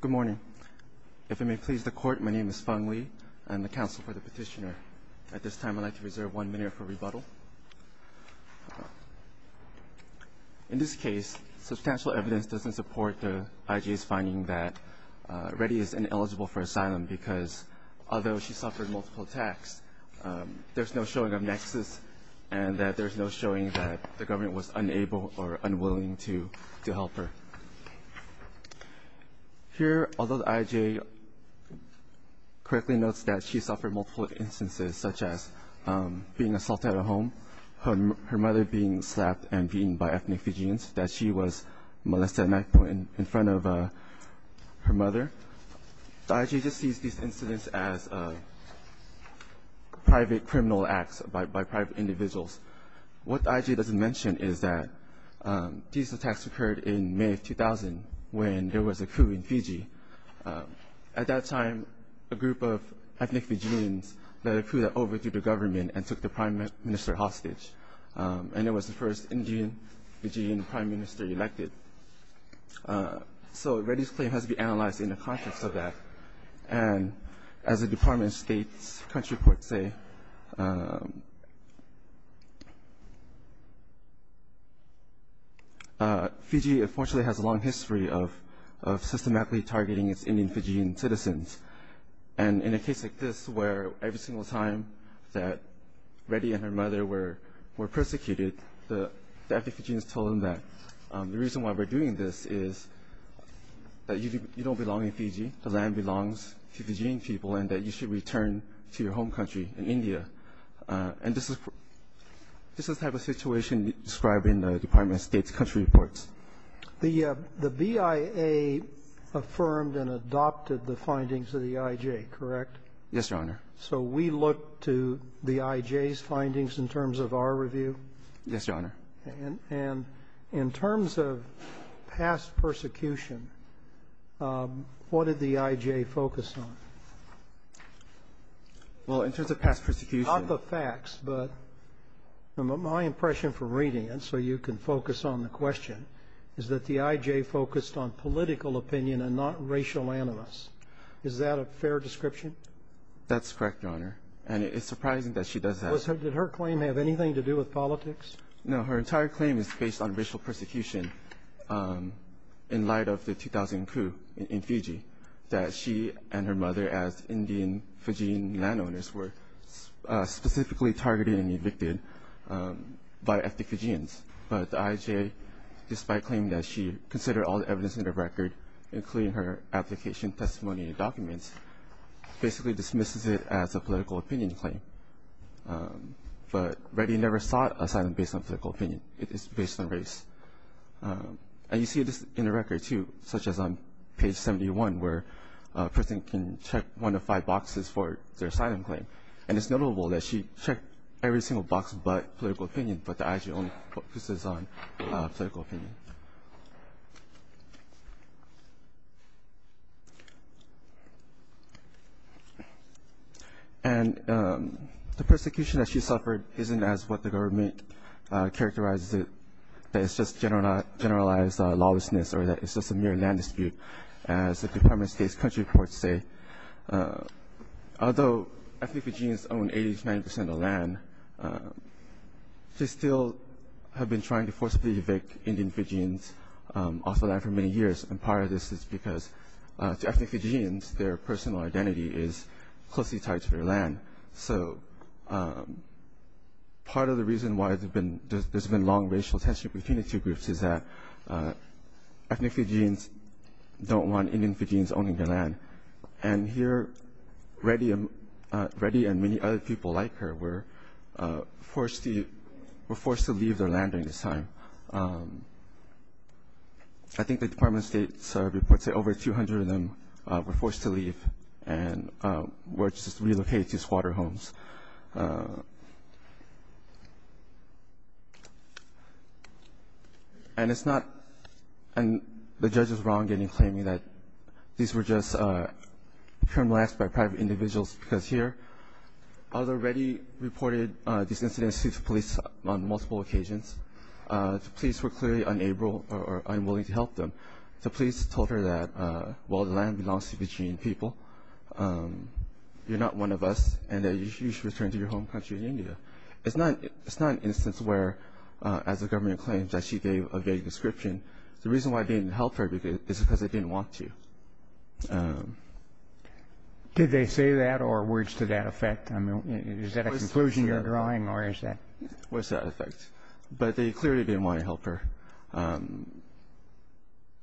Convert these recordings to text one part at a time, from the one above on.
Good morning. If it may please the court, my name is Fung Lee. I'm the counsel for the petitioner. At this time, I'd like to reserve one minute for rebuttal. In this case, substantial evidence doesn't support the IG's finding that Reddy is ineligible for asylum because although she suffered multiple attacks, there's no showing of nexus and that there's no showing that the government was unable or unwilling to help her. Here, although the IJ correctly notes that she suffered multiple instances such as being assaulted at home, her mother being slapped and beaten by ethnic Fijians, that she was molested at night in front of her mother, the IJ just sees these incidents as private criminal acts by private individuals. What the IJ doesn't mention is that these attacks occurred in May of 2000 when there was a coup in Fiji. At that time, a group of ethnic Fijians led a coup that overthrew the government and took the prime minister hostage, and it was the first Indian Fijian prime minister elected. So Reddy's claim has to be analyzed in the context of that. And as the Department of State's country reports say, Fiji, unfortunately, has a long history of systematically targeting its Indian Fijian citizens. And in a case like this where every single time that Reddy and her mother were persecuted, the ethnic Fijians told them that the reason why we're doing this is that you don't belong in Fiji, the land belongs to Fijian people, and that you should return to your home country in India. And this is the type of situation described in the Department of State's country reports. The BIA affirmed and adopted the findings of the IJ, correct? Yes, Your Honor. So we look to the IJ's findings in terms of our review? Yes, Your Honor. And in terms of past persecution, what did the IJ focus on? Well, in terms of past persecution ---- Not the facts, but my impression from reading it so you can focus on the question is that the IJ focused on political opinion and not racial animus. Is that a fair description? That's correct, Your Honor. And it's surprising that she does that. Did her claim have anything to do with politics? No. Her entire claim is based on racial persecution in light of the 2000 coup in Fiji that she and her mother as Indian Fijian landowners were specifically targeted and evicted by ethnic Fijians. But the IJ, despite claiming that she considered all the evidence in the record, including her application, testimony, and documents, basically dismisses it as a political opinion claim. But Reddy never sought asylum based on political opinion. It is based on race. And you see this in the record, too, such as on page 71, where a person can check one of five boxes for their asylum claim. And it's notable that she checked every single box but political opinion, but the IJ only focuses on political opinion. And the persecution that she suffered isn't as what the government characterizes it, that it's just generalized lawlessness or that it's just a mere land dispute, as the Department of State's country reports say. Although ethnic Fijians own 80 to 90 percent of the land, they still have been trying to forcibly evict Indian Fijians off the land for many years. And part of this is because to ethnic Fijians, their personal identity is closely tied to their land. So part of the reason why there's been long racial tension between the two groups is that ethnic Fijians don't want Indian Fijians owning their land. And here Reddy and many other people like her were forced to leave their land during this time. I think the Department of State's reports say over 200 of them were forced to leave and were just relocated to squatter homes. And it's not the judge's wrong in claiming that these were just criminal acts by private individuals, because here other Reddy reported these incidents to police on multiple occasions. The police were clearly unable or unwilling to help them. The police told her that while the land belongs to Fijian people, you're not one of us and that you should return to your home country, India. It's not an instance where, as the government claims, that she gave a vague description. The reason why they didn't help her is because they didn't want to. Did they say that or words to that effect? I mean, is that a conclusion you're drawing or is that? Words to that effect. But they clearly didn't want to help her. And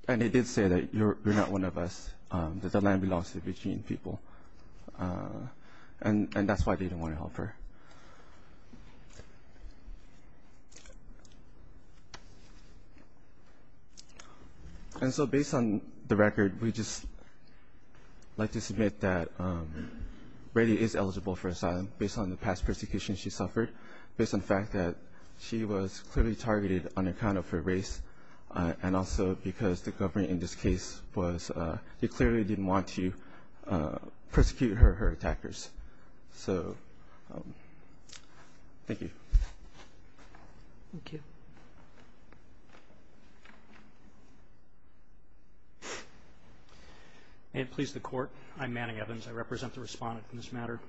they did say that you're not one of us, that the land belongs to Fijian people, and that's why they didn't want to help her. And so based on the record, we'd just like to submit that Reddy is eligible for asylum based on the past persecution she suffered, based on the fact that she was clearly targeted on account of her race and also because the government, in this case, they clearly didn't want to persecute her or her attackers. So thank you. Thank you. May it please the Court, I'm Manning Evans. I represent the respondent in this matter.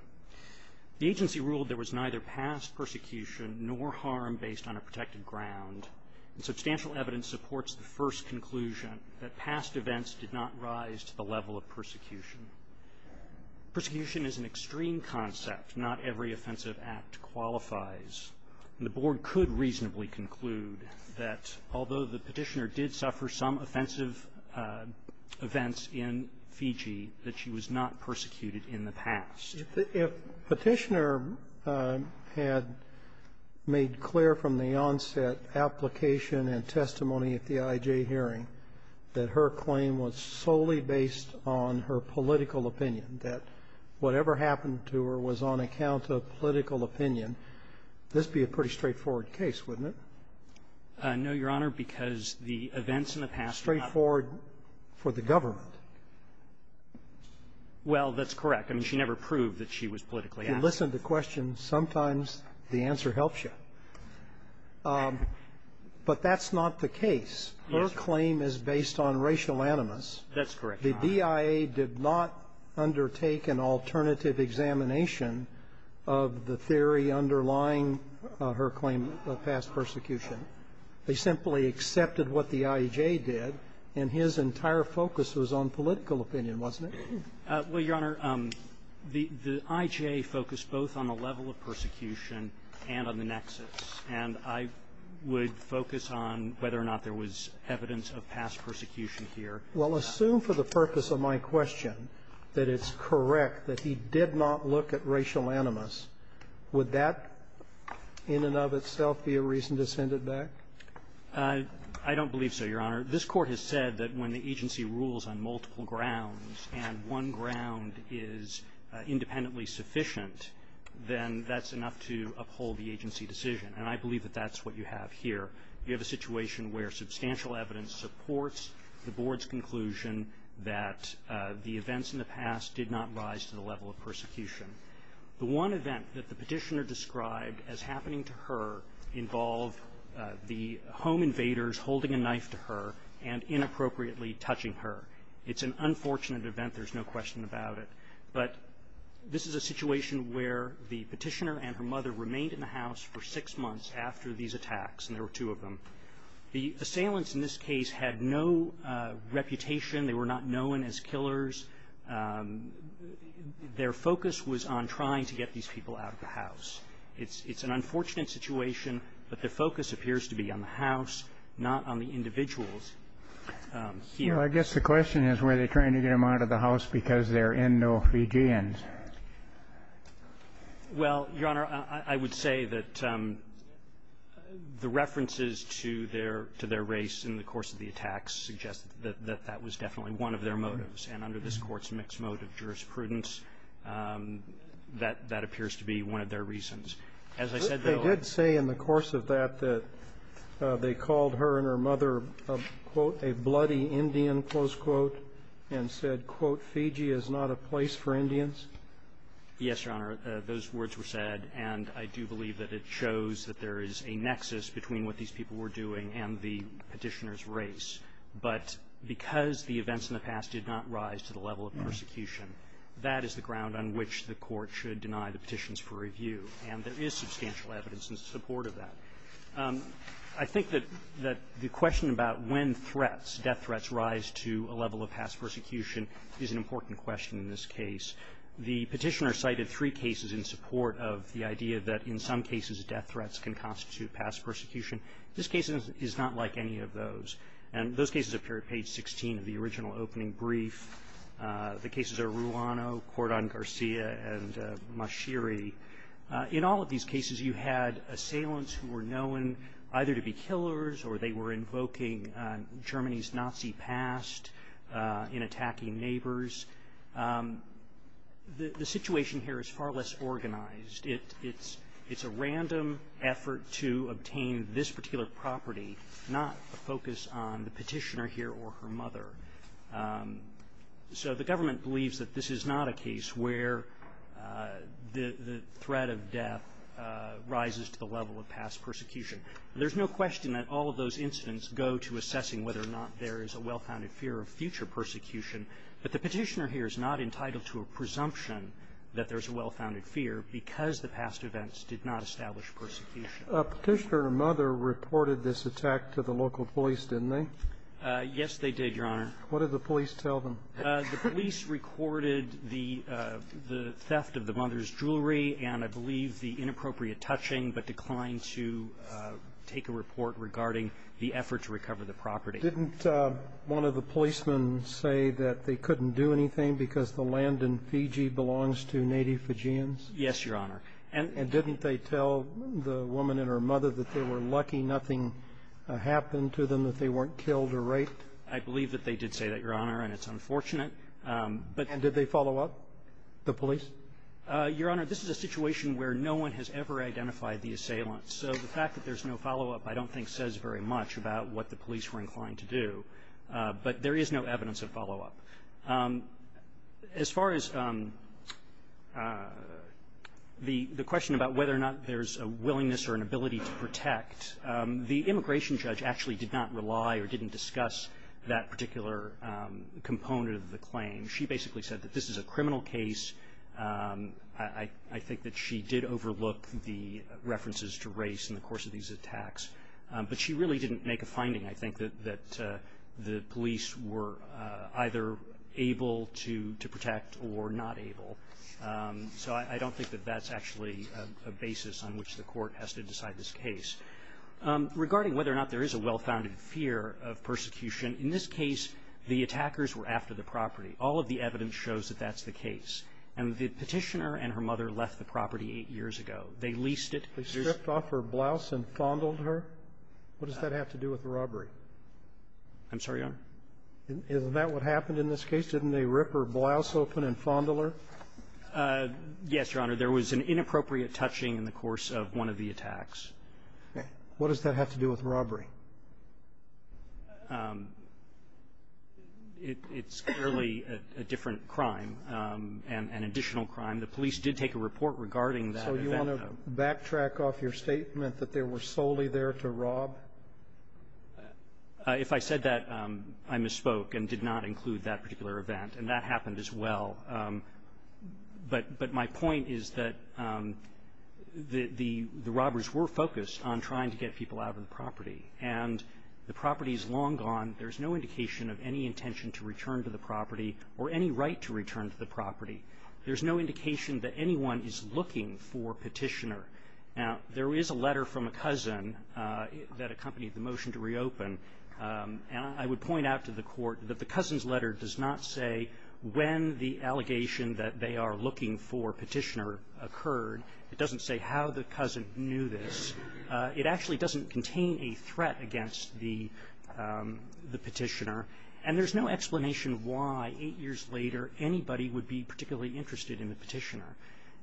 The agency ruled there was neither past persecution nor harm based on a protected ground, and substantial evidence supports the first conclusion that past events did not rise to the level of persecution. Persecution is an extreme concept. Not every offensive act qualifies. And the Board could reasonably conclude that although the petitioner did suffer some If Petitioner had made clear from the onset application and testimony at the IJ hearing that her claim was solely based on her political opinion, that whatever happened to her was on account of political opinion, this would be a pretty straightforward case, wouldn't it? No, Your Honor, because the events in the past were not straightforward for the government. Well, that's correct. I mean, she never proved that she was politically active. You listen to questions. Sometimes the answer helps you. But that's not the case. Her claim is based on racial animus. That's correct. The DIA did not undertake an alternative examination of the theory underlying her claim of past persecution. They simply accepted what the IJ did, and his entire focus was on political opinion, wasn't it? Well, Your Honor, the IJ focused both on the level of persecution and on the nexus. And I would focus on whether or not there was evidence of past persecution here. Well, assume for the purpose of my question that it's correct that he did not look at racial animus. Would that in and of itself be a reason to send it back? I don't believe so, Your Honor. This Court has said that when the agency rules on multiple grounds and one ground is independently sufficient, then that's enough to uphold the agency decision. And I believe that that's what you have here. You have a situation where substantial evidence supports the Board's conclusion that the events in the past did not rise to the level of persecution. The one event that the petitioner described as happening to her involved the home invaders holding a knife to her and inappropriately touching her. It's an unfortunate event. There's no question about it. But this is a situation where the petitioner and her mother remained in the house for six months after these attacks, and there were two of them. The assailants in this case had no reputation. They were not known as killers. Their focus was on trying to get these people out of the house. It's an unfortunate situation, but their focus appears to be on the house, not on the individuals here. Well, I guess the question is, were they trying to get them out of the house because they're Indo-Fijians? Well, Your Honor, I would say that the references to their race in the course of the attacks suggest that that was definitely one of their motives. And under this Court's mixed motive jurisprudence, that appears to be one of their reasons. They did say in the course of that that they called her and her mother, quote, a bloody Indian, close quote, and said, quote, Fiji is not a place for Indians? Yes, Your Honor. Those words were said, and I do believe that it shows that there is a nexus between what these people were doing and the petitioner's race. But because the events in the past did not rise to the level of persecution, that is the ground on which the Court should deny the petitions for review. And there is substantial evidence in support of that. I think that the question about when threats, death threats, rise to a level of past persecution is an important question in this case. The petitioner cited three cases in support of the idea that in some cases death threats can constitute past persecution. This case is not like any of those. And those cases appear at page 16 of the original opening brief. The cases are Ruano, Cordon Garcia, and Mashiri. In all of these cases, you had assailants who were known either to be killers or they were invoking Germany's Nazi past in attacking neighbors. The situation here is far less organized. It's a random effort to obtain this particular property, not a focus on the petitioner here or her mother. So the government believes that this is not a case where the threat of death rises to the level of past persecution. There's no question that all of those incidents go to assessing whether or not there is a well-founded fear of future persecution. But the petitioner here is not entitled to a presumption that there's a well-founded fear because the past events did not establish persecution. Petitioner and her mother reported this attack to the local police, didn't they? Yes, they did, Your Honor. What did the police tell them? The police recorded the theft of the mother's jewelry and, I believe, the inappropriate touching, but declined to take a report regarding the effort to recover the property. Didn't one of the policemen say that they couldn't do anything because the land in Fiji belongs to native Fijians? Yes, Your Honor. And didn't they tell the woman and her mother that they were lucky nothing happened to them, that they weren't killed or raped? I believe that they did say that, Your Honor, and it's unfortunate. And did they follow up, the police? Your Honor, this is a situation where no one has ever identified the assailant. So the fact that there's no follow-up I don't think says very much about what the police were inclined to do, but there is no evidence of follow-up. As far as the question about whether or not there's a willingness or an ability to protect, the immigration judge actually did not rely or didn't discuss that particular component of the claim. She basically said that this is a criminal case. I think that she did overlook the references to race in the course of these attacks, but she really didn't make a finding, I think, that the police were either able to protect or not able. So I don't think that that's actually a basis on which the court has to decide this case. Regarding whether or not there is a well-founded fear of persecution, in this case, the attackers were after the property. All of the evidence shows that that's the case. And the petitioner and her mother left the property eight years ago. They leased it. They stripped off her blouse and fondled her? What does that have to do with the robbery? I'm sorry, Your Honor? Isn't that what happened in this case? Didn't they rip her blouse open and fondle her? Yes, Your Honor. There was an inappropriate touching in the course of one of the attacks. Okay. What does that have to do with robbery? It's clearly a different crime, an additional crime. The police did take a report regarding that. So you want to backtrack off your statement that they were solely there to rob? If I said that, I misspoke and did not include that particular event. And that happened as well. But my point is that the robbers were focused on trying to get people out of the property. And the property is long gone. There's no indication of any intention to return to the property or any right to return to the property. There's no indication that anyone is looking for Petitioner. Now, there is a letter from a cousin that accompanied the motion to reopen. And I would point out to the court that the cousin's letter does not say when the allegation that they are looking for Petitioner occurred. It doesn't say how the cousin knew this. It actually doesn't contain a threat against the Petitioner. And there's no explanation why eight years later anybody would be particularly interested in the Petitioner.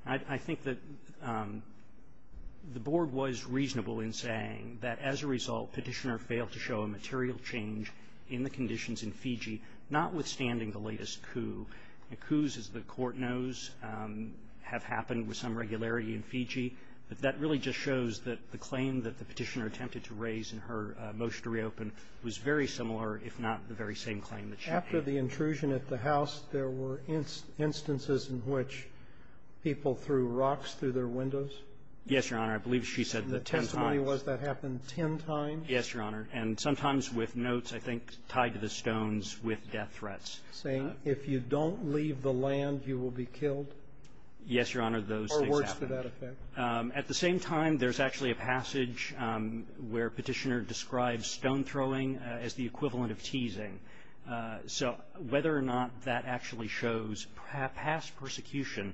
I think that the Board was reasonable in saying that, as a result, Petitioner failed to show a material change in the conditions in Fiji, notwithstanding the latest coup. Now, coups, as the Court knows, have happened with some regularity in Fiji. But that really just shows that the claim that the Petitioner attempted to raise in her motion to reopen was very similar, if not the very same claim that she made. The Interpreter After the intrusion at the house, there were instances in which people threw rocks through their windows? Yes, Your Honor. I believe she said the ten times. The Interpreter And the testimony was that happened ten times? Yes, Your Honor. And sometimes with notes, I think, tied to the stones with death threats. The Interpreter Saying if you don't leave the land, you will be killed? Yes, Your Honor. Those things happened. The Interpreter Or words to that effect. At the same time, there's actually a passage where Petitioner describes stone-throwing as the equivalent of teasing. So whether or not that actually shows past persecution,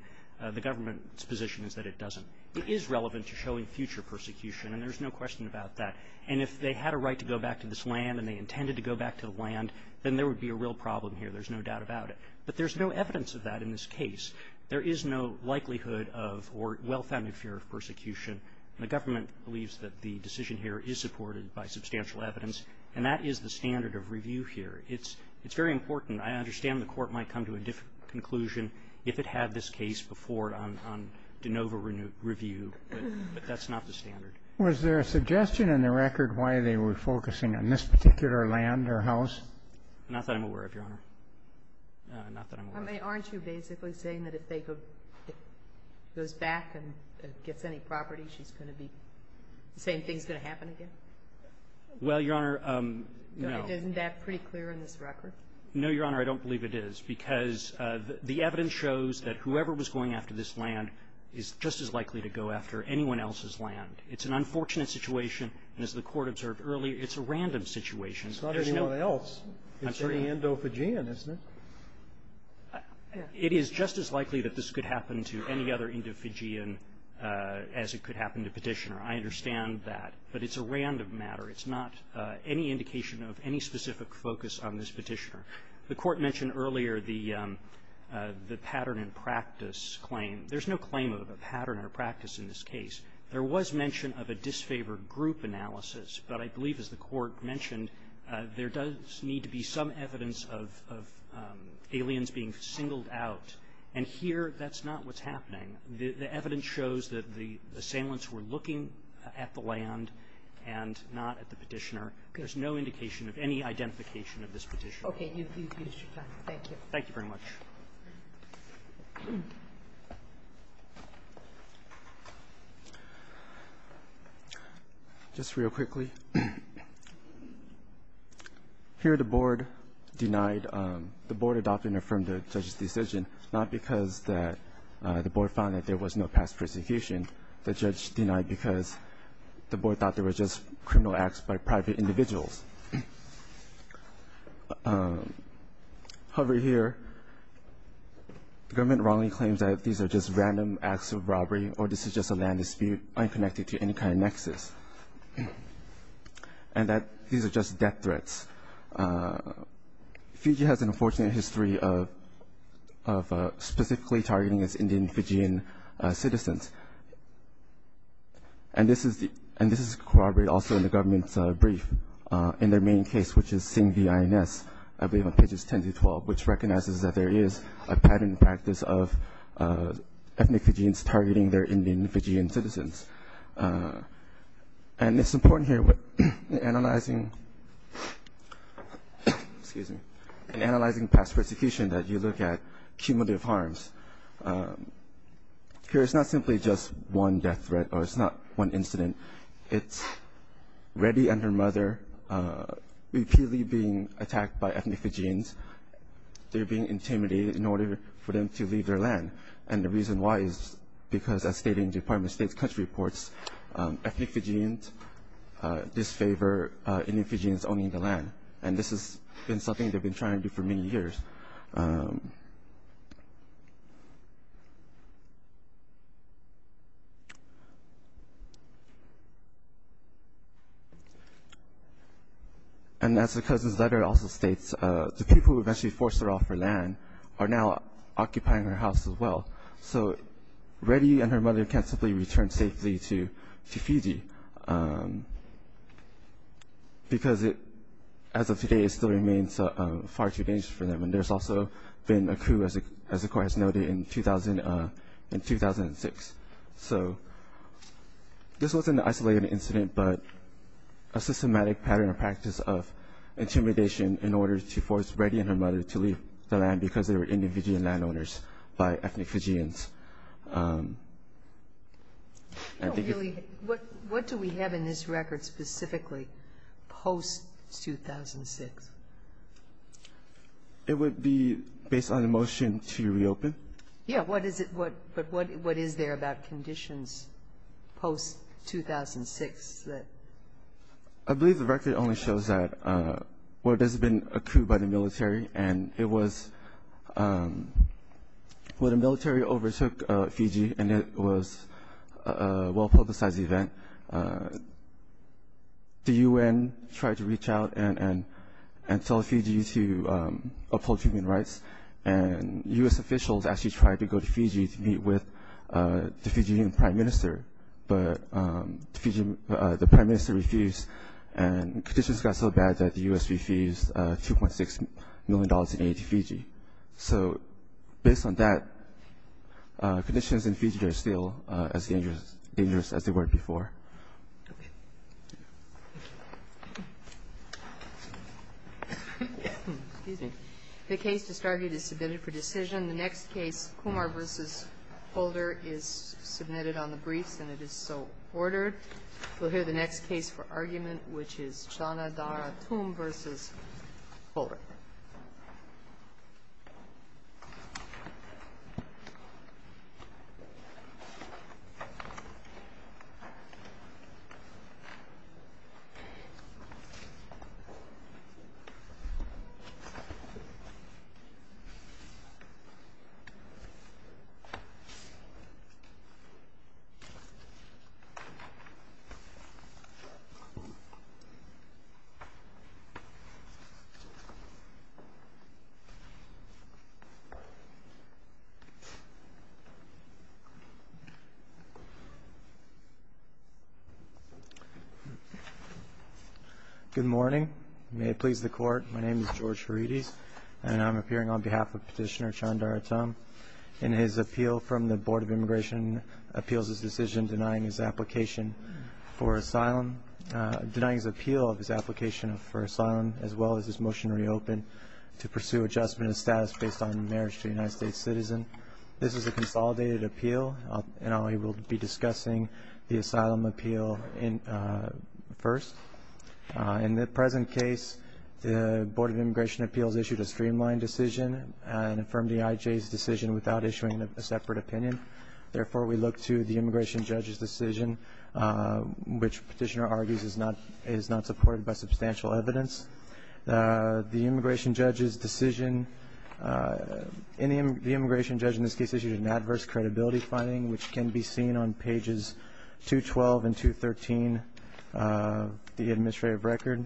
the government's position is that it doesn't. It is relevant to showing future persecution, and there's no question about that. And if they had a right to go back to this land and they intended to go back to the land, then there would be a real problem here. There's no doubt about it. But there's no evidence of that in this case. There is no likelihood of or well-founded fear of persecution. And the government believes that the decision here is supported by substantial evidence. And that is the standard of review here. It's very important. I understand the Court might come to a different conclusion if it had this case before it on de novo review, but that's not the standard. Was there a suggestion in the record why they were focusing on this particular land or house? Not that I'm aware of, Your Honor. Not that I'm aware of. Aren't you basically saying that if they go back and gets any property, she's going to be saying things are going to happen again? Well, Your Honor, no. Isn't that pretty clear in this record? No, Your Honor. I don't believe it is. Because the evidence shows that whoever was going after this land is just as likely to go after anyone else's land. It's an unfortunate situation. And as the Court observed earlier, it's a random situation. It's not anyone else. I'm sorry. It's an Indo-Fijian, isn't it? It is just as likely that this could happen to any other Indo-Fijian as it could happen to Petitioner. I understand that. But it's a random matter. It's not any indication of any specific focus on this Petitioner. The Court mentioned earlier the pattern and practice claim. There's no claim of a pattern or practice in this case. There was mention of a disfavored group analysis. But I believe, as the Court mentioned, there does need to be some evidence of aliens being singled out. And here, that's not what's happening. The evidence shows that the assailants were looking at the land and not at the Petitioner. There's no indication of any identification of this Petitioner. Okay. You've used your time. Thank you. Thank you very much. Just real quickly. Here the Board denied the Board adopted and affirmed the judge's decision, not because the Board found that there was no past persecution. The judge denied because the Board thought there was just criminal acts by private individuals. However, here the government wrongly claims that these are just random acts of robbery or this is just a land dispute unconnected to any kind of nexus and that these are just death threats. Fiji has an unfortunate history of specifically targeting its Indian Fijian citizens. And this is corroborated also in the government's brief in their main case, which is SINGVINS, I believe on pages 10 through 12, which recognizes that there is a pattern in practice of ethnic Fijians targeting their Indian Fijian citizens. And it's important here when analyzing past persecution that you look at cumulative harms. Here it's not simply just one death threat or it's not one incident. It's Reddy and her mother repeatedly being attacked by ethnic Fijians. They're being intimidated in order for them to leave their land. And the reason why is because as stated in the Department of State's country reports, ethnic Fijians disfavor Indian Fijians owning the land. And this has been something they've been trying to do for many years. And as the cousin's letter also states, the people who eventually forced her off her land are now occupying her house as well. So Reddy and her mother can't simply return safely to Fiji, because as of today it still remains far too dangerous for them. And there's also been a coup, as the court has noted, in 2006. So this was an isolated incident, but a systematic pattern or practice of intimidation in order to force Reddy and her mother to leave the land because they were Indian Fijian landowners by ethnic Fijians. What do we have in this record specifically post-2006? It would be based on a motion to reopen. Yeah, but what is there about conditions post-2006? I believe the record only shows that there's been a coup by the military, and it was when the military overtook Fiji and it was a well-publicized event. The U.N. tried to reach out and tell Fiji to uphold human rights, and U.S. officials actually tried to go to Fiji to meet with the Fijian prime minister, but the prime minister refused, and conditions got so bad that the U.S. refused $2.6 million in aid to Fiji. So based on that, conditions in Fiji are still as dangerous as they were before. Excuse me. The case just argued is submitted for decision. The next case, Kumar v. Holder, is submitted on the briefs, and it is so ordered. We'll hear the next case for argument, which is Chanadarathum v. Holder. Thank you. Good morning. May it please the Court, my name is George Ferides, and I'm appearing on behalf of Petitioner Chanadarathum. In his appeal from the Board of Immigration Appeals, his decision denying his application for asylum, denying his appeal of his application for asylum, as well as his motion to reopen to pursue adjustment of status based on marriage to a United States citizen. This is a consolidated appeal, and I will be discussing the asylum appeal first. In the present case, the Board of Immigration Appeals issued a streamlined decision, and affirmed the IJ's decision without issuing a separate opinion. Therefore, we look to the immigration judge's decision, which Petitioner argues is not supported by substantial evidence. The immigration judge's decision, the immigration judge in this case issued an adverse credibility finding, which can be seen on pages 212 and 213 of the administrative record.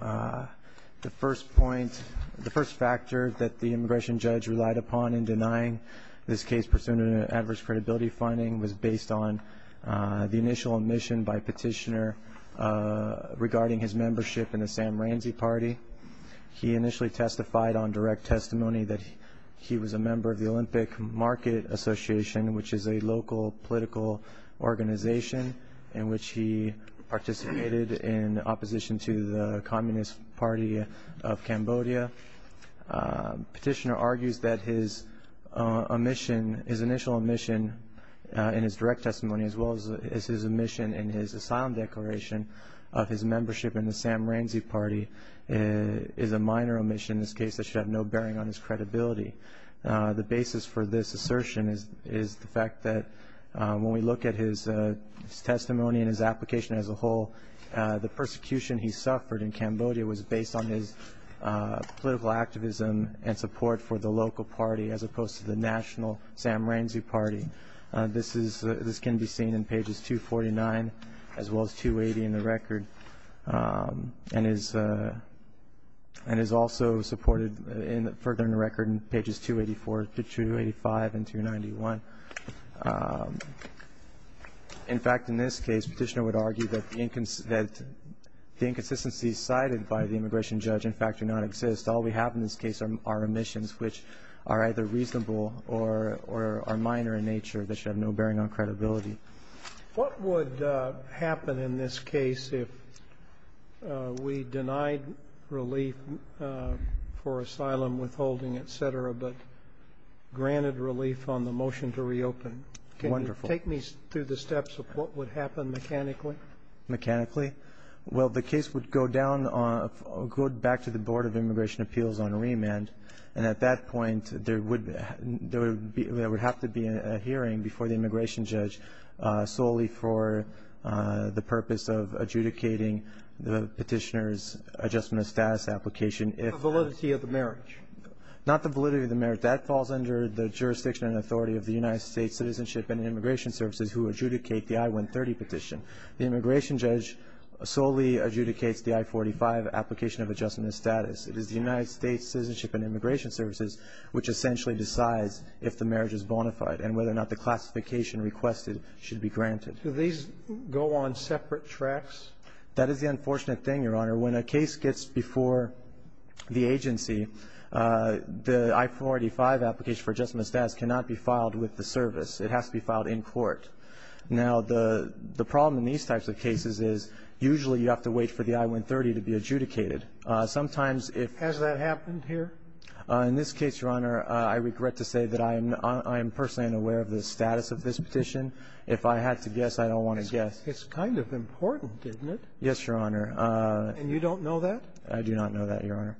The first point, the first factor that the immigration judge relied upon in denying this case, pursuant to an adverse credibility finding, was based on the initial admission by Petitioner regarding his membership in the Sam Ramsey party. He initially testified on direct testimony that he was a member of the Olympic Market Association, which is a local political organization in which he participated in opposition to the Communist Party of Cambodia. Petitioner argues that his initial admission in his direct testimony, as well as his admission in his asylum declaration of his membership in the Sam Ramsey party, is a minor omission in this case that should have no bearing on his credibility. The basis for this assertion is the fact that when we look at his testimony and his application as a whole, the persecution he suffered in Cambodia was based on his political activism and support for the local party, as opposed to the national Sam Ramsey party. This can be seen in pages 249 as well as 280 in the record, and is also supported further in the record in pages 284 to 285 and 291. In fact, in this case, Petitioner would argue that the inconsistencies cited by the immigration judge in fact do not exist. All we have in this case are omissions which are either reasonable or minor in nature that should have no bearing on credibility. What would happen in this case if we denied relief for asylum withholding, et cetera, but granted relief on the motion to reopen? Wonderful. Take me through the steps of what would happen mechanically. Mechanically? Well, the case would go back to the Board of Immigration Appeals on remand, and at that point there would have to be a hearing before the immigration judge solely for the purpose of adjudicating the Petitioner's adjustment of status application. The validity of the merit? Not the validity of the merit. That falls under the jurisdiction and authority of the United States Citizenship and Immigration Services who adjudicate the I-130 petition. The immigration judge solely adjudicates the I-485 application of adjustment of status. It is the United States Citizenship and Immigration Services which essentially decides if the marriage is bona fide and whether or not the classification requested should be granted. Do these go on separate tracks? That is the unfortunate thing, Your Honor. When a case gets before the agency, the I-485 application for adjustment of status cannot be filed with the service. It has to be filed in court. Now, the problem in these types of cases is usually you have to wait for the I-130 to be adjudicated. Sometimes if ---- Has that happened here? In this case, Your Honor, I regret to say that I am personally unaware of the status of this petition. If I had to guess, I don't want to guess. It's kind of important, isn't it? Yes, Your Honor. And you don't know that? I do not know that, Your Honor.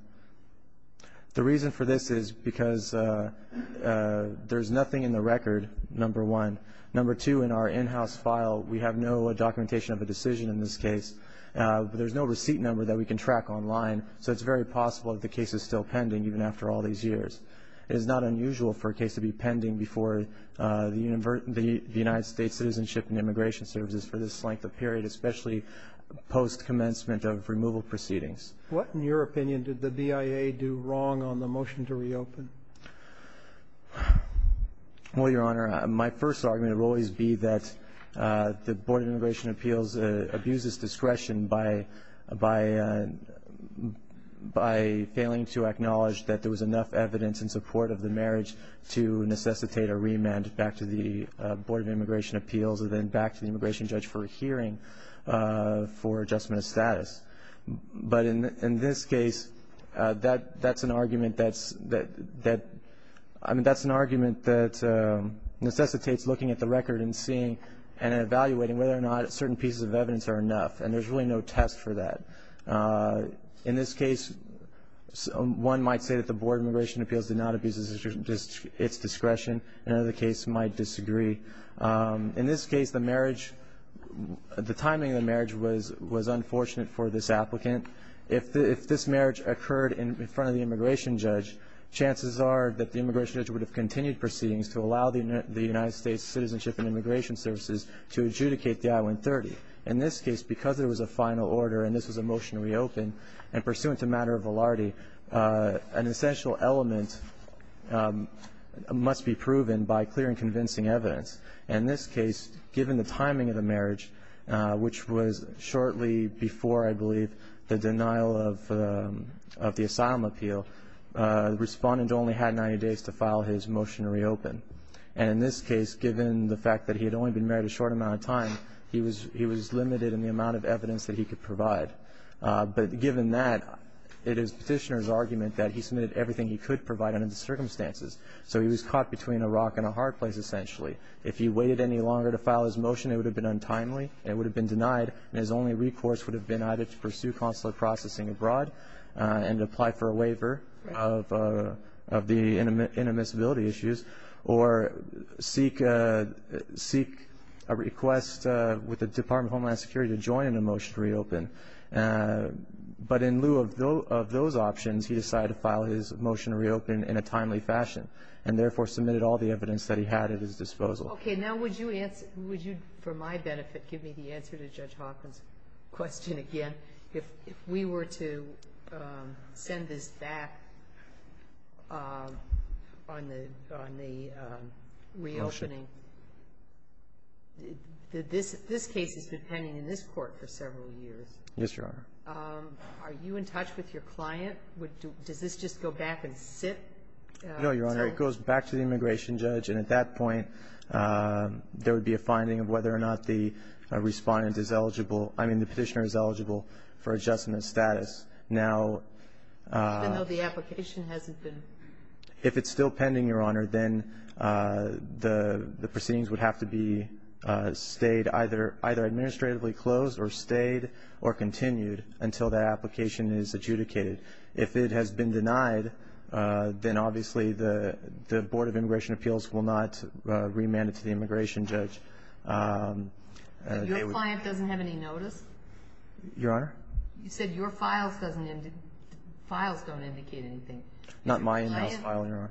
The reason for this is because there's nothing in the record, number one. Number two, in our in-house file, we have no documentation of a decision in this case. There's no receipt number that we can track online, so it's very possible that the case is still pending even after all these years. It is not unusual for a case to be pending before the United States Citizenship and Immigration Services for this length of period, especially post-commencement of removal proceedings. What, in your opinion, did the DIA do wrong on the motion to reopen? Well, Your Honor, my first argument will always be that the Board of Immigration Appeals abuses discretion by failing to acknowledge that there was enough evidence in support of the marriage to necessitate a remand back to the Board of Immigration Appeals and then back to the immigration judge for a hearing for adjustment of status. But in this case, that's an argument that necessitates looking at the record and seeing and evaluating whether or not certain pieces of evidence are enough, and there's really no test for that. In this case, one might say that the Board of Immigration Appeals did not abuse its discretion. Another case might disagree. In this case, the marriage, the timing of the marriage was unfortunate for this applicant. If this marriage occurred in front of the immigration judge, chances are that the immigration judge would have continued proceedings to allow the United States Citizenship and Immigration Services to adjudicate the I-130. In this case, because there was a final order and this was a motion to reopen, and pursuant to matter of validity, an essential element must be proven by clear and convincing evidence. In this case, given the timing of the marriage, which was shortly before, I believe, the denial of the asylum appeal, the respondent only had 90 days to file his motion to reopen. And in this case, given the fact that he had only been married a short amount of time, he was limited in the amount of evidence that he could provide. But given that, it is Petitioner's argument that he submitted everything he could provide So he was caught between a rock and a hard place, essentially. If he waited any longer to file his motion, it would have been untimely, it would have been denied, and his only recourse would have been either to pursue consular processing abroad and apply for a waiver of the inadmissibility issues or seek a request with the Department of Homeland Security to join in the motion to reopen. But in lieu of those options, he decided to file his motion to reopen in a timely fashion and therefore submitted all the evidence that he had at his disposal. Okay, now would you, for my benefit, give me the answer to Judge Hawkins' question again? If we were to send this back on the reopening, this case has been pending in this Court for several years. Yes, Your Honor. Are you in touch with your client? Does this just go back and sit? No, Your Honor. It goes back to the immigration judge, and at that point, there would be a finding of whether or not the Respondent is eligible, I mean the Petitioner is eligible for adjustment status. Even though the application hasn't been? If it's still pending, Your Honor, then the proceedings would have to be stayed, either administratively closed or stayed or continued until that application is adjudicated. If it has been denied, then obviously the Board of Immigration Appeals will not remand it to the immigration judge. Your client doesn't have any notice? Your Honor? You said your files don't indicate anything. Not my in-house file, Your Honor. Has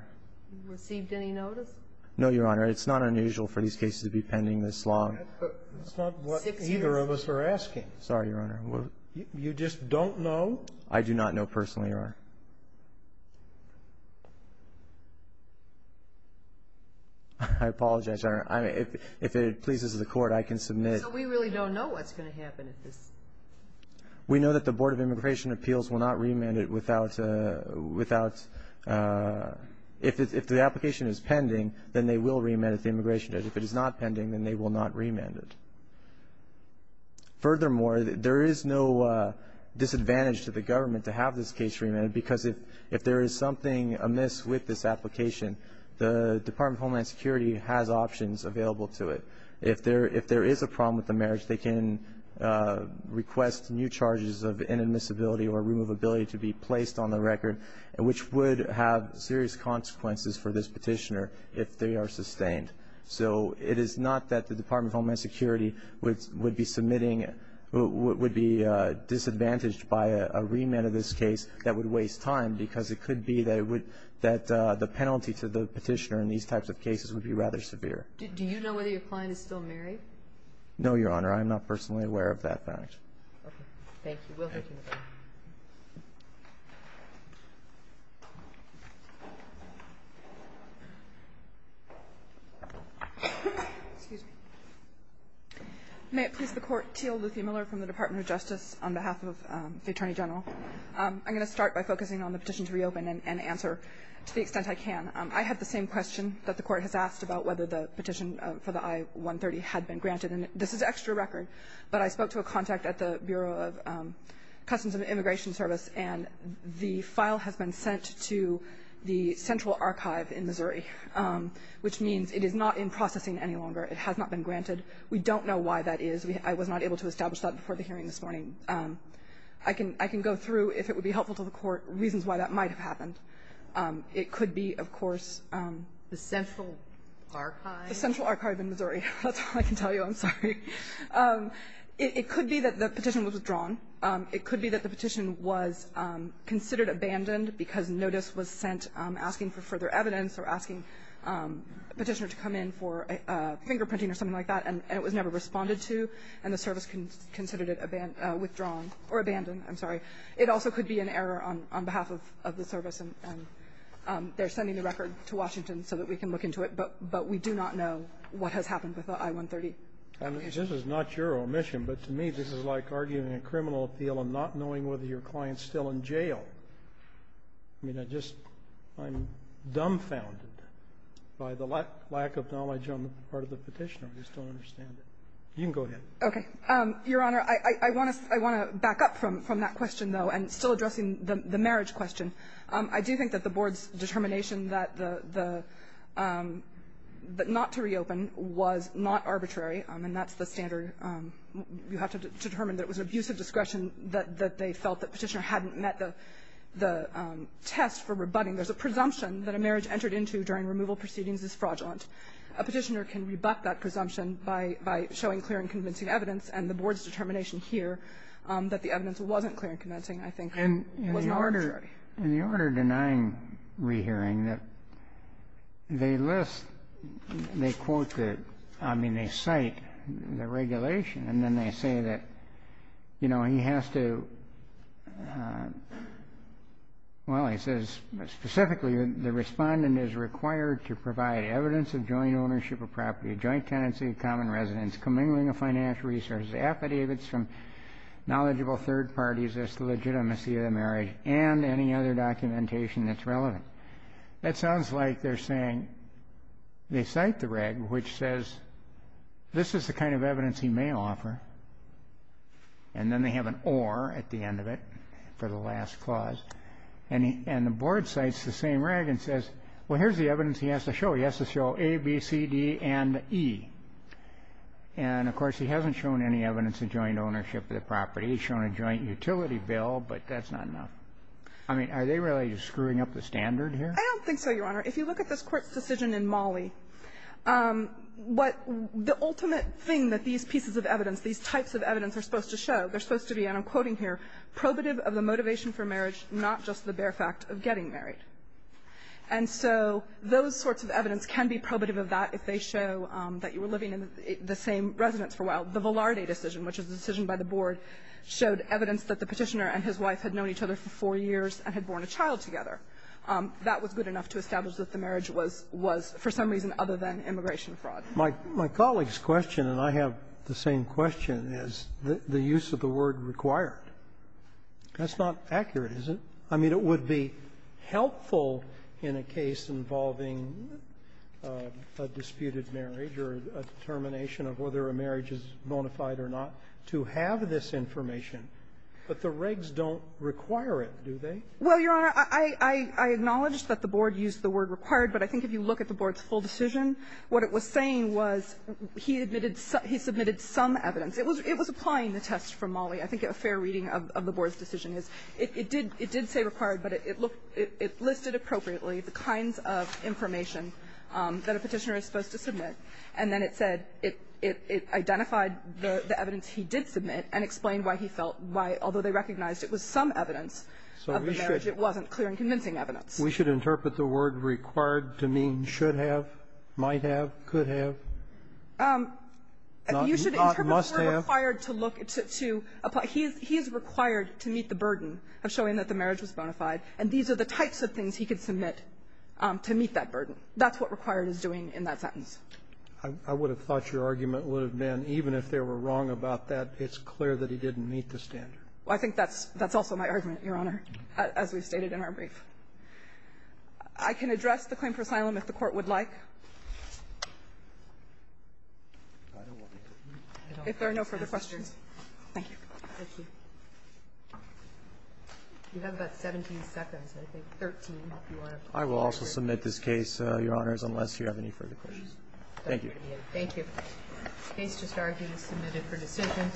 your client received any notice? No, Your Honor. It's not unusual for these cases to be pending this long. That's not what either of us are asking. Sorry, Your Honor. You just don't know? I do not know personally, Your Honor. I apologize, Your Honor. If it pleases the Court, I can submit. So we really don't know what's going to happen at this? We know that the Board of Immigration Appeals will not remand it without? If the application is pending, then they will remand it to the immigration judge. If it is not pending, then they will not remand it. Furthermore, there is no disadvantage to the government to have this case remanded because if there is something amiss with this application, the Department of Homeland Security has options available to it. If there is a problem with the marriage, they can request new charges of inadmissibility or removability to be placed on the record, which would have serious consequences for this petitioner if they are sustained. So it is not that the Department of Homeland Security would be submitting or would be disadvantaged by a remand of this case that would waste time because it could be that the penalty to the petitioner in these types of cases would be rather severe. Do you know whether your client is still married? No, Your Honor. I'm not personally aware of that fact. Okay. Thank you. We'll take another one. Thank you. May it please the Court. Teal Luthie Miller from the Department of Justice on behalf of the Attorney General. I'm going to start by focusing on the petition to reopen and answer to the extent I can. I have the same question that the Court has asked about whether the petition for the I-130 had been granted. And this is extra record, but I spoke to a contact at the Bureau of Customs and Immigration Service, and the file has been sent to the Central Archive in Missouri, which means it is not in processing any longer. It has not been granted. We don't know why that is. I was not able to establish that before the hearing this morning. I can go through, if it would be helpful to the Court, reasons why that might have happened. It could be, of course, the Central Archive. The Central Archive in Missouri. That's all I can tell you. I'm sorry. It could be that the petition was withdrawn. It could be that the petition was considered abandoned because notice was sent asking for further evidence or asking a petitioner to come in for fingerprinting or something like that, and it was never responded to, and the service considered it withdrawn or abandoned. I'm sorry. It also could be an error on behalf of the service, and they're sending the record to Washington so that we can look into it, but we do not know what has happened with the I-130 application. This is not your omission, but to me this is like arguing a criminal appeal and not knowing whether your client is still in jail. I mean, I just am dumbfounded by the lack of knowledge on the part of the petitioner. I just don't understand it. You can go ahead. Okay. Your Honor, I want to back up from that question, though, and still addressing the marriage question. I do think that the Board's determination that the not to reopen was not arbitrary, and that's the standard. You have to determine that it was an abuse of discretion that they felt the petitioner hadn't met the test for rebutting. There's a presumption that a marriage entered into during removal proceedings is fraudulent. A petitioner can rebut that presumption by showing clear and convincing evidence, and the Board's determination here that the evidence wasn't clear and convincing, I think, was not arbitrary. In the order denying rehearing, they list, they quote the, I mean, they cite the regulation, and then they say that, you know, he has to, well, he says specifically the respondent is required to provide evidence of joint ownership of property, joint tenancy of common residence, commingling of financial resources, affidavits from knowledgeable third parties as to legitimacy of the marriage, and any other documentation that's relevant. That sounds like they're saying they cite the reg, which says this is the kind of evidence he may offer, and then they have an or at the end of it for the last clause, and the Board cites the same reg and says, well, here's the evidence he has to show. He has to show A, B, C, D, and E. And, of course, he hasn't shown any evidence of joint ownership of the property. He's shown a joint utility bill, but that's not enough. I mean, are they really just screwing up the standard here? I don't think so, Your Honor. If you look at this Court's decision in Mali, what the ultimate thing that these are supposed to be, and I'm quoting here, probative of the motivation for marriage, not just the bare fact of getting married. And so those sorts of evidence can be probative of that if they show that you were living in the same residence for a while. The Velarde decision, which is a decision by the Board, showed evidence that the Petitioner and his wife had known each other for four years and had born a child together. That was good enough to establish that the marriage was for some reason other than immigration fraud. My colleague's question, and I have the same question, is the use of the word required. That's not accurate, is it? I mean, it would be helpful in a case involving a disputed marriage or a determination of whether a marriage is bona fide or not to have this information, but the regs don't require it, do they? Well, Your Honor, I acknowledge that the Board used the word required, but I think if you look at the Board's full decision, what it was saying was he admitted some he submitted some evidence. It was applying the test from Molley. I think a fair reading of the Board's decision is it did say required, but it looked it listed appropriately the kinds of information that a Petitioner is supposed to submit. And then it said it identified the evidence he did submit and explained why he felt why, although they recognized it was some evidence of the marriage, it wasn't clear and convincing evidence. We should interpret the word required to mean should have, might have, could have? You should interpret the word required to look to apply. He is required to meet the burden of showing that the marriage was bona fide, and these are the types of things he could submit to meet that burden. That's what required is doing in that sentence. I would have thought your argument would have been even if they were wrong about that, it's clear that he didn't meet the standard. I think that's also my argument, Your Honor, as we've stated in our brief. I can address the claim for asylum if the Court would like. If there are no further questions. Thank you. Thank you. You have about 17 seconds, I think, 13 if you want to. I will also submit this case, Your Honors, unless you have any further questions. Thank you. Thank you. The case just argued is submitted for decision.